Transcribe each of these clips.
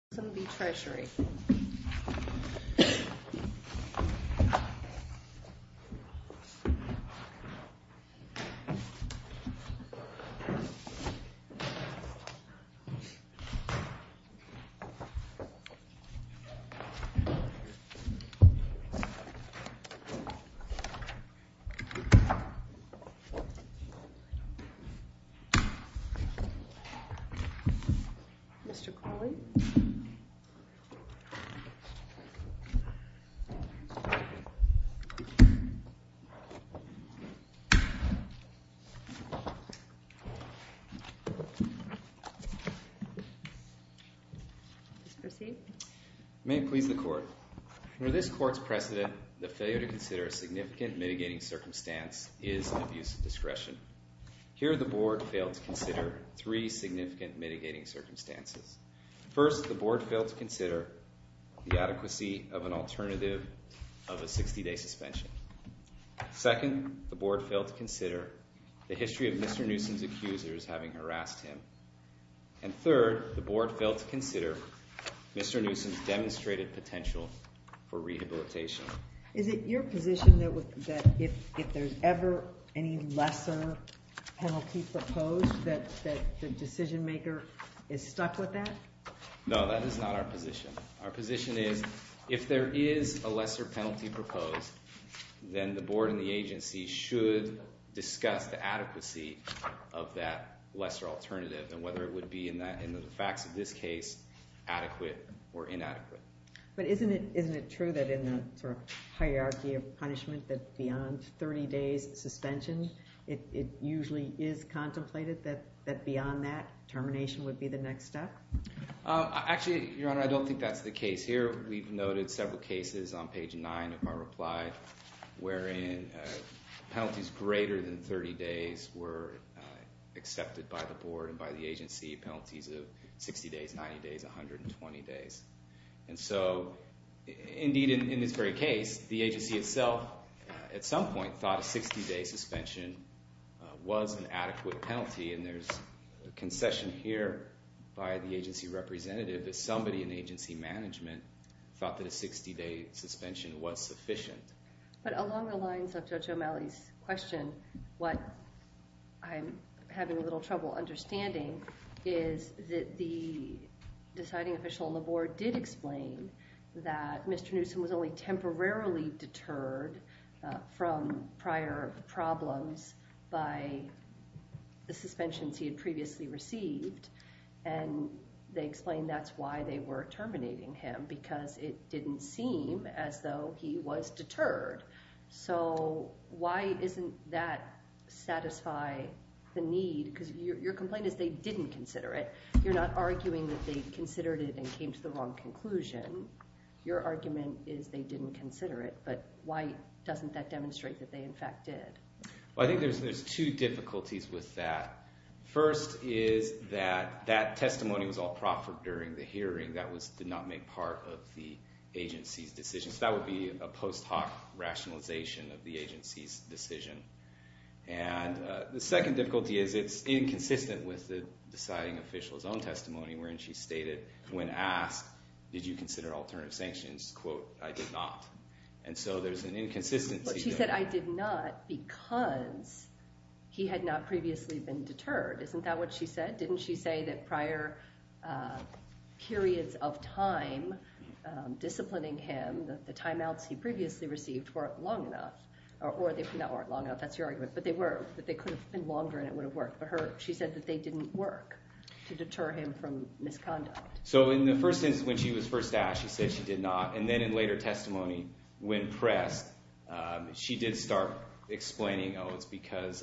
Mr. Kerry. Mr. Kerry. Mr. Kerry. Mr. Kerry. May it please the court. Under this court's precedent, the failure to consider a significant mitigating circumstance is an abuse of discretion. Here, the board failed to consider three significant mitigating circumstances. First, the board failed to consider the adequacy of an alternative of a 60-day suspension. Second, the board failed to consider the history of Mr. Newsom's accusers having harassed him. And third, the board failed to consider Mr. Newsom's demonstrated potential for rehabilitation. Is it your position that if there's ever any lesser penalty proposed that the decision maker is stuck with that? No, that is not our position. Our position is if there is a lesser penalty proposed, then the board and the agency should discuss the adequacy of that lesser alternative and whether it would be, in the facts of this case, adequate or inadequate. But isn't it true that in the hierarchy of punishment that beyond 30 days suspension, it usually is contemplated that beyond that, termination would be the next step? Actually, Your Honor, I don't think that's the case here. Here, we've noted several cases on page 9 of our reply wherein penalties greater than 30 days were accepted by the board and by the agency, penalties of 60 days, 90 days, 120 days. And so, indeed, in this very case, the agency itself, at some point, thought a 60-day suspension was an adequate penalty. And there's a concession here by the agency representative that somebody in agency management thought that a 60-day suspension was sufficient. But along the lines of Judge O'Malley's question, what I'm having a little trouble understanding is that the deciding official on the board did explain that Mr. Newsom was only temporarily deterred from prior problems by the suspensions he had previously received. And they explained that's why they were terminating him, because it didn't seem as though he was deterred. So why doesn't that satisfy the need? Because your complaint is they didn't consider it. You're not arguing that they considered it and came to the wrong conclusion. Your argument is they didn't consider it, but why doesn't that demonstrate that they, in fact, did? Well, I think there's two difficulties with that. First is that that testimony was all proffered during the hearing. That did not make part of the agency's decision. So that would be a post hoc rationalization of the agency's decision. And the second difficulty is it's inconsistent with the deciding official's own testimony, wherein she stated, when asked, did you consider alternative sanctions, quote, I did not. And so there's an inconsistency. But she said, I did not because he had not previously been deterred. Isn't that what she said? Didn't she say that prior periods of time disciplining him, the timeouts he previously received, weren't long enough? Or they weren't long enough. That's your argument. But they were. But they could have been longer, and it would have worked. But she said that they didn't work to deter him from misconduct. So in the first instance, when she was first asked, she said she did not. And then in later testimony, when pressed, she did start explaining, oh, it's because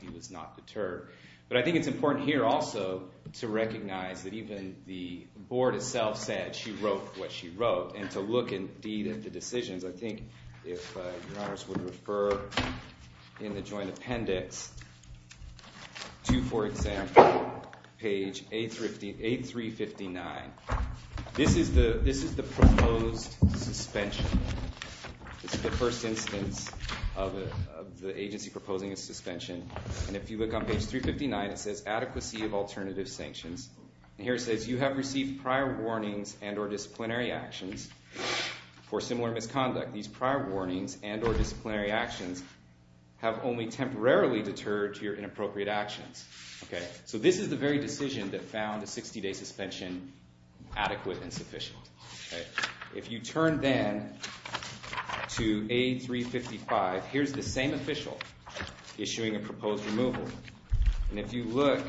he was not deterred. But I think it's important here also to recognize that even the board itself said she wrote what she wrote. And to look indeed at the decisions, I think if your honors would refer in the joint appendix to, for example, page 8359. This is the proposed suspension. This is the first instance of the agency proposing a suspension. And if you look on page 359, it says adequacy of alternative sanctions. And here it says, you have received prior warnings and or disciplinary actions for similar misconduct. These prior warnings and or disciplinary actions have only temporarily deterred your inappropriate actions. So this is the very decision that found a 60-day suspension adequate and sufficient. If you turn then to A355, here's the same official issuing a proposed removal. And if you look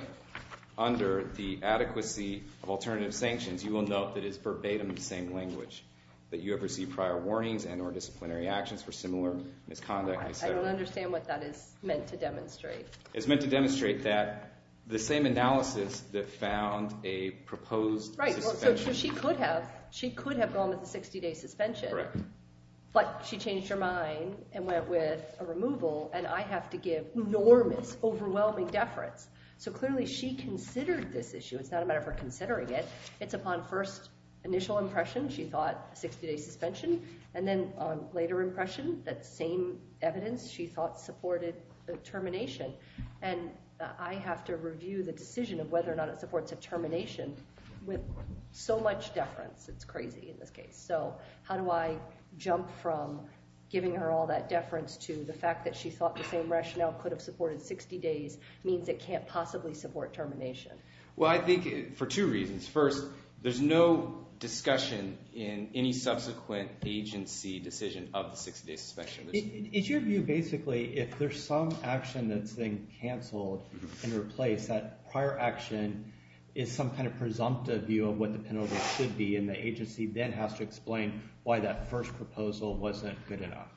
under the adequacy of alternative sanctions, you will note that it's verbatim the same language, that you have received prior warnings and or disciplinary actions for similar misconduct, et cetera. I don't understand what that is meant to demonstrate. It's meant to demonstrate that the same analysis that found a proposed suspension. Right, so she could have gone with a 60-day suspension. Correct. But she changed her mind and went with a removal. And I have to give enormous, overwhelming deference. So clearly she considered this issue. It's not a matter of her considering it. It's upon first initial impression she thought a 60-day suspension. And then on later impression, that same evidence she thought supported a termination. And I have to review the decision of whether or not it supports a termination with so much deference. It's crazy in this case. So how do I jump from giving her all that deference to the fact that she thought the same rationale could have supported 60 days means it can't possibly support termination? Well, I think for two reasons. First, there's no discussion in any subsequent agency decision of the 60-day suspension. It's your view basically if there's some action that's being canceled and replaced, that prior action is some kind of presumptive view of what the penalty should be. And the agency then has to explain why that first proposal wasn't good enough.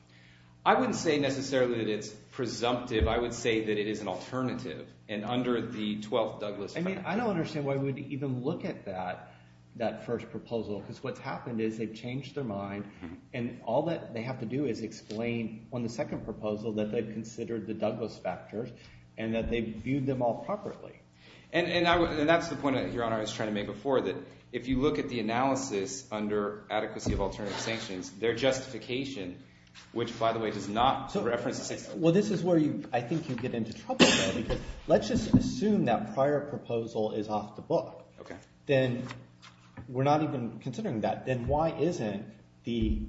I wouldn't say necessarily that it's presumptive. I would say that it is an alternative. I mean, I don't understand why we would even look at that first proposal because what's happened is they've changed their mind. And all that they have to do is explain on the second proposal that they've considered the Douglas factors and that they've viewed them all properly. And that's the point, Your Honor, I was trying to make before that if you look at the analysis under adequacy of alternative sanctions, their justification, which, by the way, does not reference the 60-day suspension. Well, this is where I think you get into trouble though because let's just assume that prior proposal is off the book. Then we're not even considering that. Then why isn't the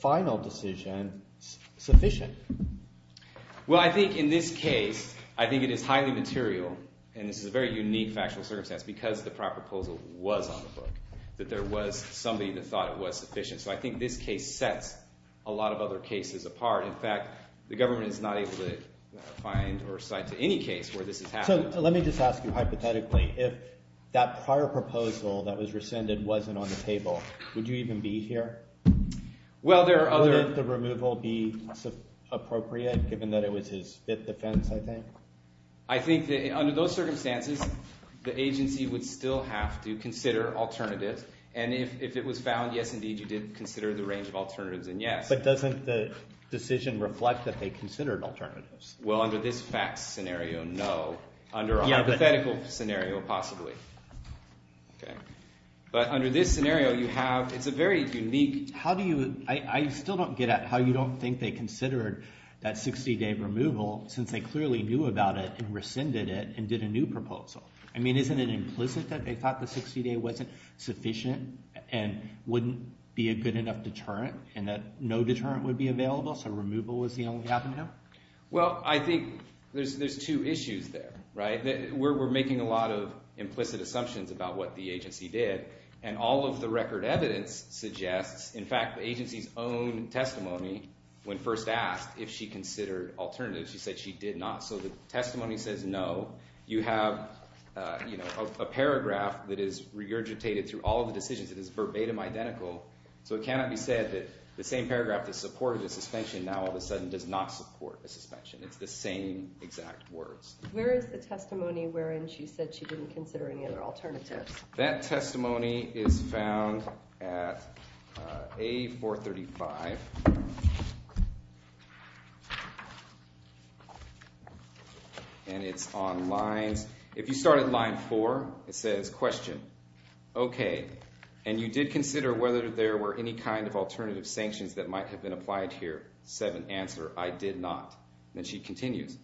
final decision sufficient? Well, I think in this case, I think it is highly material, and this is a very unique factual circumstance because the prior proposal was on the book, that there was somebody that thought it was sufficient. So I think this case sets a lot of other cases apart. In fact, the government is not able to find or cite to any case where this has happened. So let me just ask you hypothetically. If that prior proposal that was rescinded wasn't on the table, would you even be here? Well, there are other – Would the removal be appropriate given that it was his fifth defense, I think? I think that under those circumstances, the agency would still have to consider alternatives. And if it was found, yes, indeed, you did consider the range of alternatives, then yes. But doesn't the decision reflect that they considered alternatives? Well, under this facts scenario, no. Under a hypothetical scenario, possibly. But under this scenario, you have – it's a very unique – How do you – I still don't get at how you don't think they considered that 60-day removal since they clearly knew about it and rescinded it and did a new proposal. I mean isn't it implicit that they thought the 60-day wasn't sufficient and wouldn't be a good enough deterrent and that no deterrent would be available so removal was the only option? Well, I think there's two issues there. We're making a lot of implicit assumptions about what the agency did, and all of the record evidence suggests – in fact, the agency's own testimony when first asked if she considered alternatives, she said she did not. So the testimony says no. You have a paragraph that is regurgitated through all of the decisions. It is verbatim identical. So it cannot be said that the same paragraph that supported a suspension now all of a sudden does not support a suspension. It's the same exact words. Where is the testimony wherein she said she didn't consider any other alternatives? That testimony is found at A435, and it's on lines – if you start at line 4, it says question. Okay, and you did consider whether there were any kind of alternative sanctions that might have been applied here. Seven, answer, I did not. Then she continues.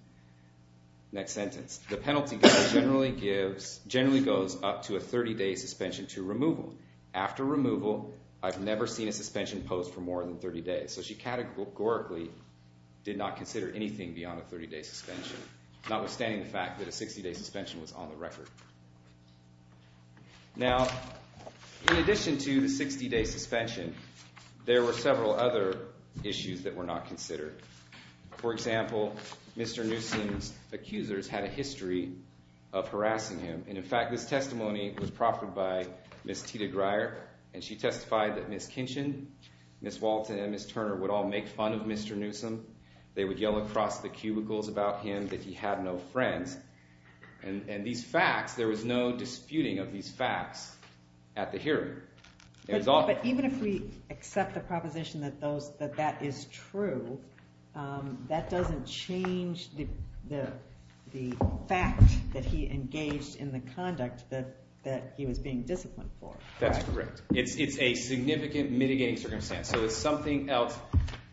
Next sentence. The penalty generally goes up to a 30-day suspension to removal. After removal, I've never seen a suspension posed for more than 30 days. So she categorically did not consider anything beyond a 30-day suspension, notwithstanding the fact that a 60-day suspension was on the record. Now, in addition to the 60-day suspension, there were several other issues that were not considered. For example, Mr. Newsom's accusers had a history of harassing him. And, in fact, this testimony was proffered by Ms. Tita Greyer, and she testified that Ms. Kinchin, Ms. Walton, and Ms. Turner would all make fun of Mr. Newsom. They would yell across the cubicles about him, that he had no friends. And these facts, there was no disputing of these facts at the hearing. But even if we accept the proposition that that is true, that doesn't change the fact that he engaged in the conduct that he was being disciplined for. That's correct. It's a significant mitigating circumstance. So it's something else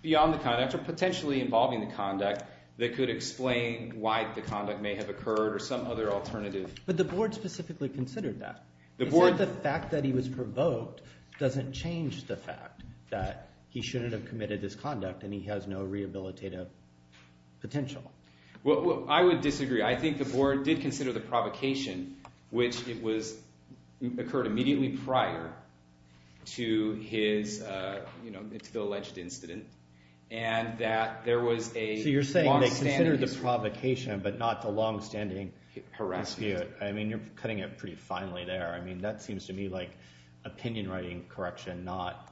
beyond the conduct or potentially involving the conduct that could explain why the conduct may have occurred or some other alternative. But the board specifically considered that. The fact that he was provoked doesn't change the fact that he shouldn't have committed this conduct and he has no rehabilitative potential. Well, I would disagree. I think the board did consider the provocation, which occurred immediately prior to the alleged incident, and that there was a longstanding dispute. So you're saying they considered the provocation but not the longstanding dispute. I mean you're cutting it pretty finely there. I mean that seems to me like opinion writing correction, not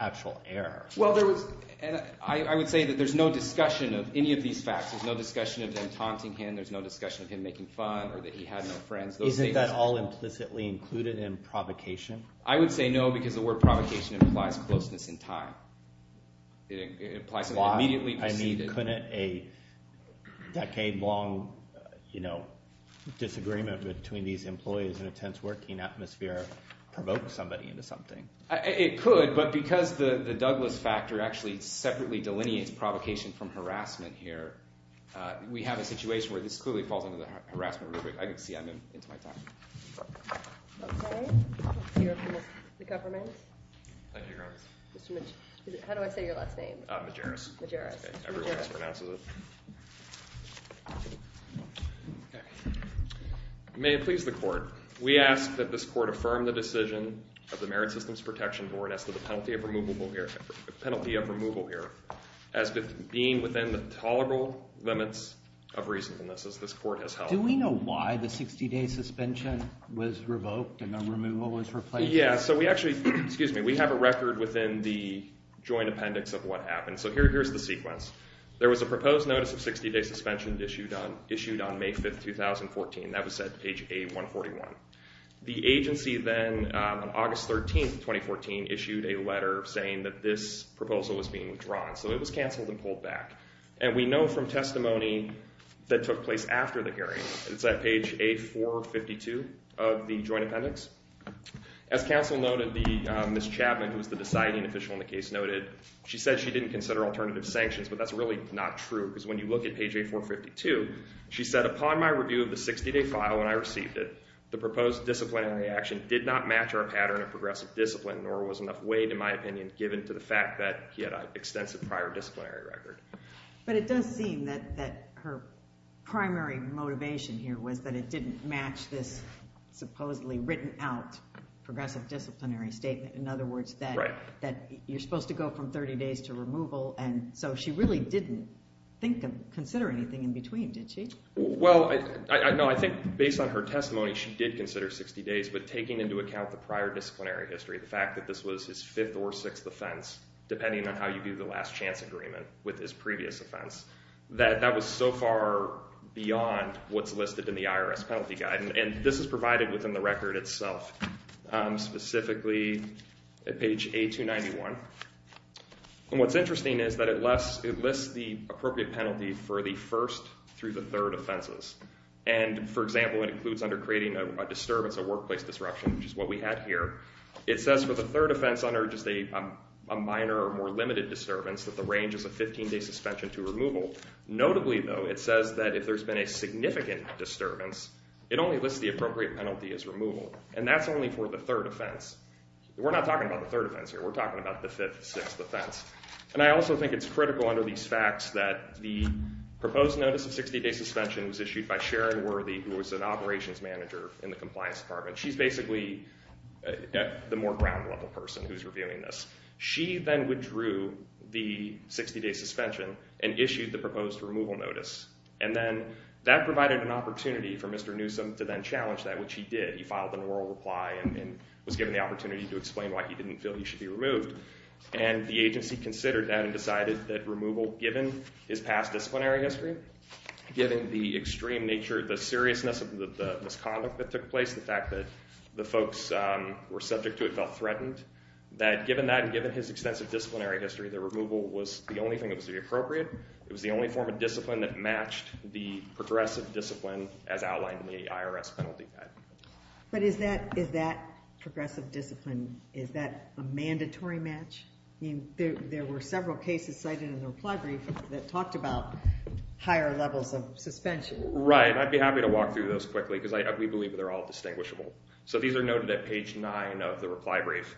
actual error. Well, there was – and I would say that there's no discussion of any of these facts. There's no discussion of them taunting him. There's no discussion of him making fun or that he had no friends. Isn't that all implicitly included in provocation? I would say no because the word provocation implies closeness in time. It implies something immediately preceded. Couldn't a decade-long disagreement between these employees in a tense working atmosphere provoke somebody into something? It could, but because the Douglas factor actually separately delineates provocation from harassment here, we have a situation where this clearly falls under the harassment rubric. I can see I'm into my time. Okay. Let's hear from the government. Thank you, Your Honor. How do I say your last name? Majerus. Majerus. Everyone else pronounces it. May it please the court. We ask that this court affirm the decision of the Merit Systems Protection Board as to the penalty of removal here as being within the tolerable limits of reasonableness as this court has held. Do we know why the 60-day suspension was revoked and the removal was replaced? Yeah, so we actually – excuse me. It was within the joint appendix of what happened. So here's the sequence. There was a proposed notice of 60-day suspension issued on May 5th, 2014. That was at page A141. The agency then, on August 13th, 2014, issued a letter saying that this proposal was being withdrawn, so it was canceled and pulled back. And we know from testimony that took place after the hearing. It's at page A452 of the joint appendix. As counsel noted, Ms. Chapman, who was the deciding official in the case, noted she said she didn't consider alternative sanctions, but that's really not true because when you look at page A452, she said upon my review of the 60-day file when I received it, the proposed disciplinary action did not match our pattern of progressive discipline, nor was enough weight, in my opinion, given to the fact that he had an extensive prior disciplinary record. But it does seem that her primary motivation here was that it didn't match this supposedly written-out progressive disciplinary statement. In other words, that you're supposed to go from 30 days to removal, and so she really didn't consider anything in between, did she? Well, no, I think based on her testimony, she did consider 60 days, but taking into account the prior disciplinary history, the fact that this was his fifth or sixth offense, depending on how you do the last chance agreement with his previous offense, that that was so far beyond what's listed in the IRS penalty guide. And this is provided within the record itself, specifically at page A291. And what's interesting is that it lists the appropriate penalty for the first through the third offenses. And for example, it includes under creating a disturbance, a workplace disruption, which is what we had here. It says for the third offense under just a minor or more limited disturbance that the range is a 15-day suspension to removal. Notably, though, it says that if there's been a significant disturbance, it only lists the appropriate penalty as removal. And that's only for the third offense. We're not talking about the third offense here. We're talking about the fifth, sixth offense. And I also think it's critical under these facts that the proposed notice of 60-day suspension was issued by Sharon Worthy, who was an operations manager in the compliance department. She's basically the more ground-level person who's reviewing this. She then withdrew the 60-day suspension and issued the proposed removal notice. And then that provided an opportunity for Mr. Newsom to then challenge that, which he did. He filed an oral reply and was given the opportunity to explain why he didn't feel he should be removed. And the agency considered that and decided that removal, given his past disciplinary history, given the extreme nature, the seriousness of the misconduct that took place, the fact that the folks were subject to it felt threatened, that given that and given his extensive disciplinary history, that removal was the only thing that was to be appropriate. It was the only form of discipline that matched the progressive discipline as outlined in the IRS penalty guide. But is that progressive discipline, is that a mandatory match? There were several cases cited in the reply brief that talked about higher levels of suspension. Right. I'd be happy to walk through those quickly because we believe they're all distinguishable. So these are noted at page 9 of the reply brief.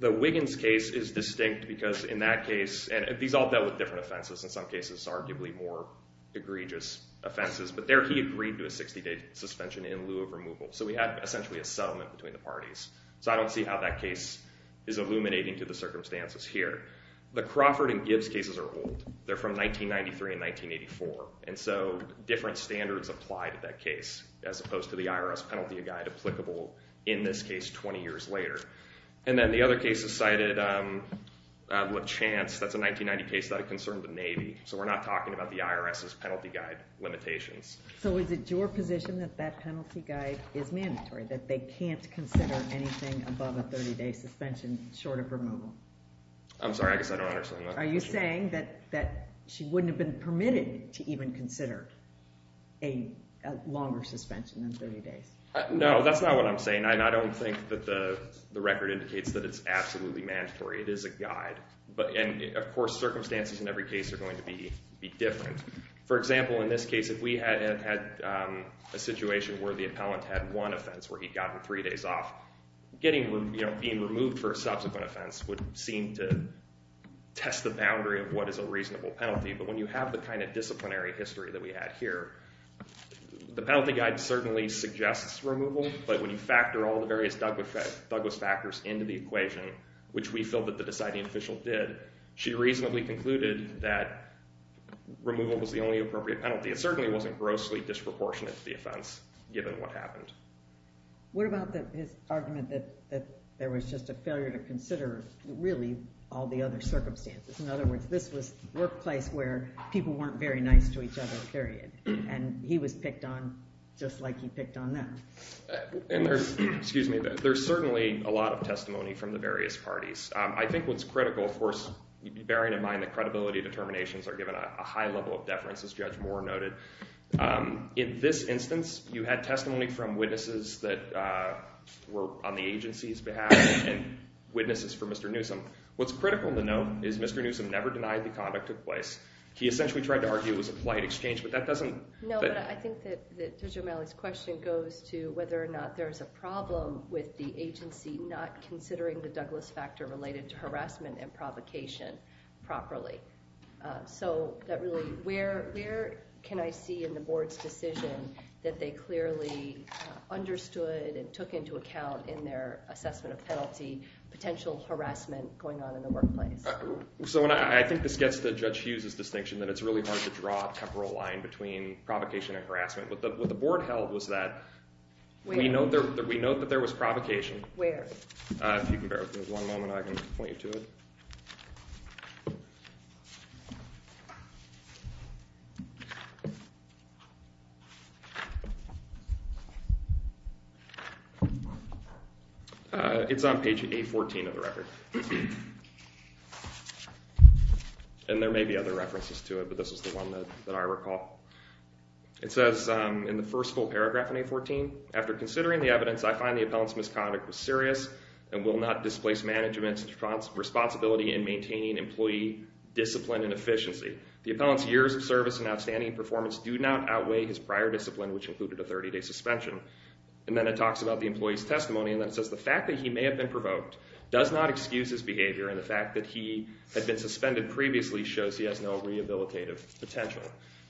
The Wiggins case is distinct because in that case, and these all dealt with different offenses, in some cases arguably more egregious offenses, but there he agreed to a 60-day suspension in lieu of removal. So we had essentially a settlement between the parties. So I don't see how that case is illuminating to the circumstances here. The Crawford and Gibbs cases are old. They're from 1993 and 1984. And so different standards apply to that case as opposed to the IRS penalty guide applicable in this case 20 years later. And then the other case is cited, LaChance, that's a 1990 case that concerned the Navy. So we're not talking about the IRS's penalty guide limitations. So is it your position that that penalty guide is mandatory, that they can't consider anything above a 30-day suspension short of removal? I'm sorry. I guess I don't understand that. Are you saying that she wouldn't have been permitted to even consider a longer suspension than 30 days? No, that's not what I'm saying. I don't think that the record indicates that it's absolutely mandatory. It is a guide. And, of course, circumstances in every case are going to be different. For example, in this case, if we had a situation where the appellant had one offense where he'd gotten three days off, being removed for a subsequent offense would seem to test the boundary of what is a reasonable penalty. But when you have the kind of disciplinary history that we have here, the penalty guide certainly suggests removal. But when you factor all the various Douglas factors into the equation, which we feel that the deciding official did, she reasonably concluded that removal was the only appropriate penalty. It certainly wasn't grossly disproportionate to the offense, given what happened. What about his argument that there was just a failure to consider, really, all the other circumstances? In other words, this was the workplace where people weren't very nice to each other, period, and he was picked on just like he picked on them. There's certainly a lot of testimony from the various parties. I think what's critical, of course, bearing in mind that credibility determinations are given a high level of deference, as Judge Moore noted. In this instance, you had testimony from witnesses that were on the agency's behalf and witnesses for Mr. Newsom. What's critical to note is Mr. Newsom never denied the conduct took place. He essentially tried to argue it was a polite exchange, but that doesn't – No, but I think that Judge O'Malley's question goes to whether or not there's a problem with the agency not considering the Douglas factor related to harassment and provocation properly. So that really – where can I see in the board's decision that they clearly understood and took into account in their assessment of penalty potential harassment going on in the workplace? So I think this gets to Judge Hughes' distinction that it's really hard to draw a temporal line between provocation and harassment. What the board held was that we know that there was provocation. Where? If you can bear with me one moment, I can point you to it. It's on page 814 of the record, and there may be other references to it, but this is the one that I recall. It says in the first full paragraph in 814, After considering the evidence, I find the appellant's misconduct was serious and will not displace management's responsibility in maintaining employee discipline and efficiency. The appellant's years of service and outstanding performance do not outweigh his prior discipline, which included a 30-day suspension. And then it talks about the employee's testimony, and it says the fact that he may have been provoked does not excuse his behavior, and the fact that he had been suspended previously shows he has no rehabilitative potential.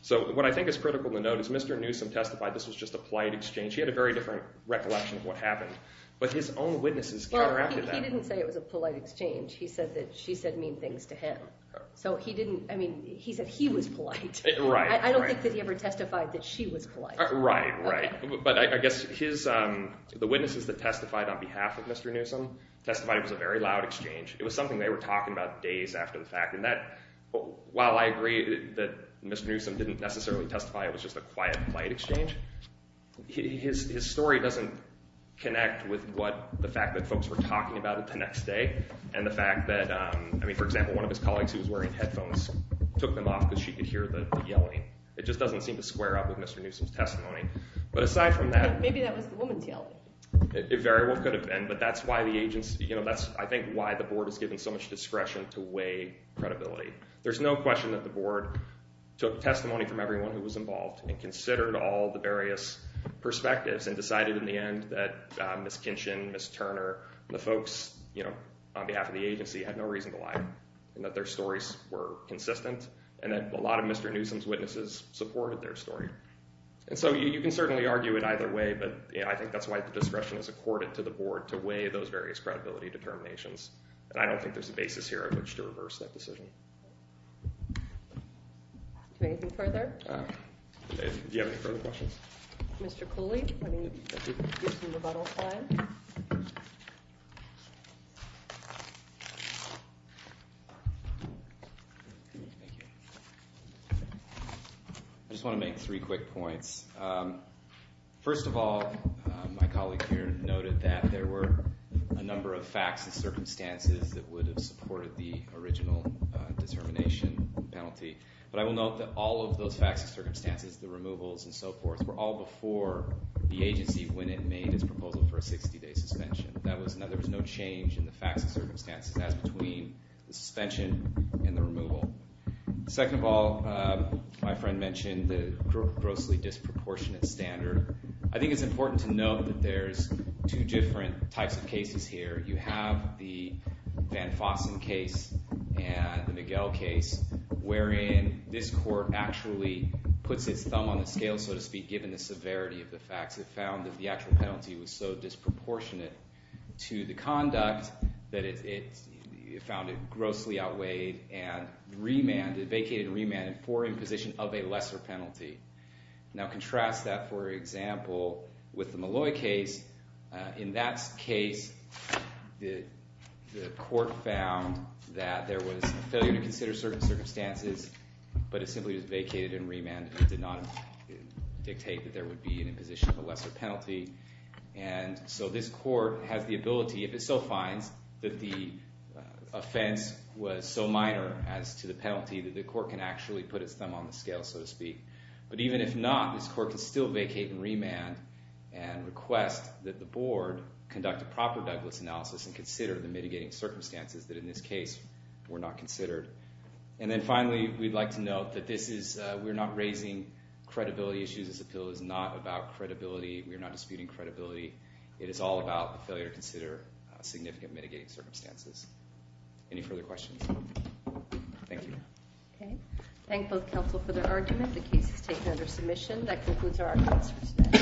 So what I think is critical to note is Mr. Newsom testified this was just a polite exchange. He had a very different recollection of what happened, but his own witnesses counteracted that. Well, he didn't say it was a polite exchange. He said that she said mean things to him. So he didn't, I mean, he said he was polite. I don't think that he ever testified that she was polite. Right, right. But I guess the witnesses that testified on behalf of Mr. Newsom testified it was a very loud exchange. It was something they were talking about days after the fact. And while I agree that Mr. Newsom didn't necessarily testify it was just a quiet, polite exchange, his story doesn't connect with the fact that folks were talking about it the next day and the fact that, I mean, for example, one of his colleagues who was wearing headphones took them off because she could hear the yelling. It just doesn't seem to square up with Mr. Newsom's testimony. But aside from that— Maybe that was the woman's yelling. It very well could have been. But that's why the agency—that's, I think, why the board has given so much discretion to weigh credibility. There's no question that the board took testimony from everyone who was involved and considered all the various perspectives and decided in the end that Ms. Kinchin, Ms. Turner, the folks on behalf of the agency had no reason to lie and that their stories were consistent and that a lot of Mr. Newsom's witnesses supported their story. And so you can certainly argue it either way, but I think that's why the discretion is accorded to the board to weigh those various credibility determinations. And I don't think there's a basis here on which to reverse that decision. Anything further? Do you have any further questions? Mr. Cooley, do you want to use the rebuttal slide? I just want to make three quick points. First of all, my colleague here noted that there were a number of facts and circumstances that would have supported the original determination penalty. But I will note that all of those facts and circumstances, the removals and so forth, were all before the agency when it made its proposal for a 60-day suspension. There was no change in the facts and circumstances as between the suspension and the removal. Second of all, my friend mentioned the grossly disproportionate standard. I think it's important to note that there's two different types of cases here. You have the Van Fossen case and the Miguel case wherein this court actually puts its thumb on the scale, so to speak, given the severity of the facts. It found that the actual penalty was so disproportionate to the conduct that it found it grossly outweighed and vacated and remanded for imposition of a lesser penalty. Now contrast that, for example, with the Malloy case. In that case, the court found that there was a failure to consider certain circumstances, but it simply was vacated and remanded and did not dictate that there would be an imposition of a lesser penalty. So this court has the ability, if it still finds that the offense was so minor as to the penalty, that the court can actually put its thumb on the scale, so to speak. But even if not, this court can still vacate and remand and request that the board conduct a proper Douglas analysis and consider the mitigating circumstances that in this case were not considered. And then finally, we'd like to note that we're not raising credibility issues. This appeal is not about credibility. We are not disputing credibility. It is all about the failure to consider significant mitigating circumstances. Any further questions? Thank you. Okay. Thank both counsel for their argument. The case is taken under submission. That concludes our arguments for today.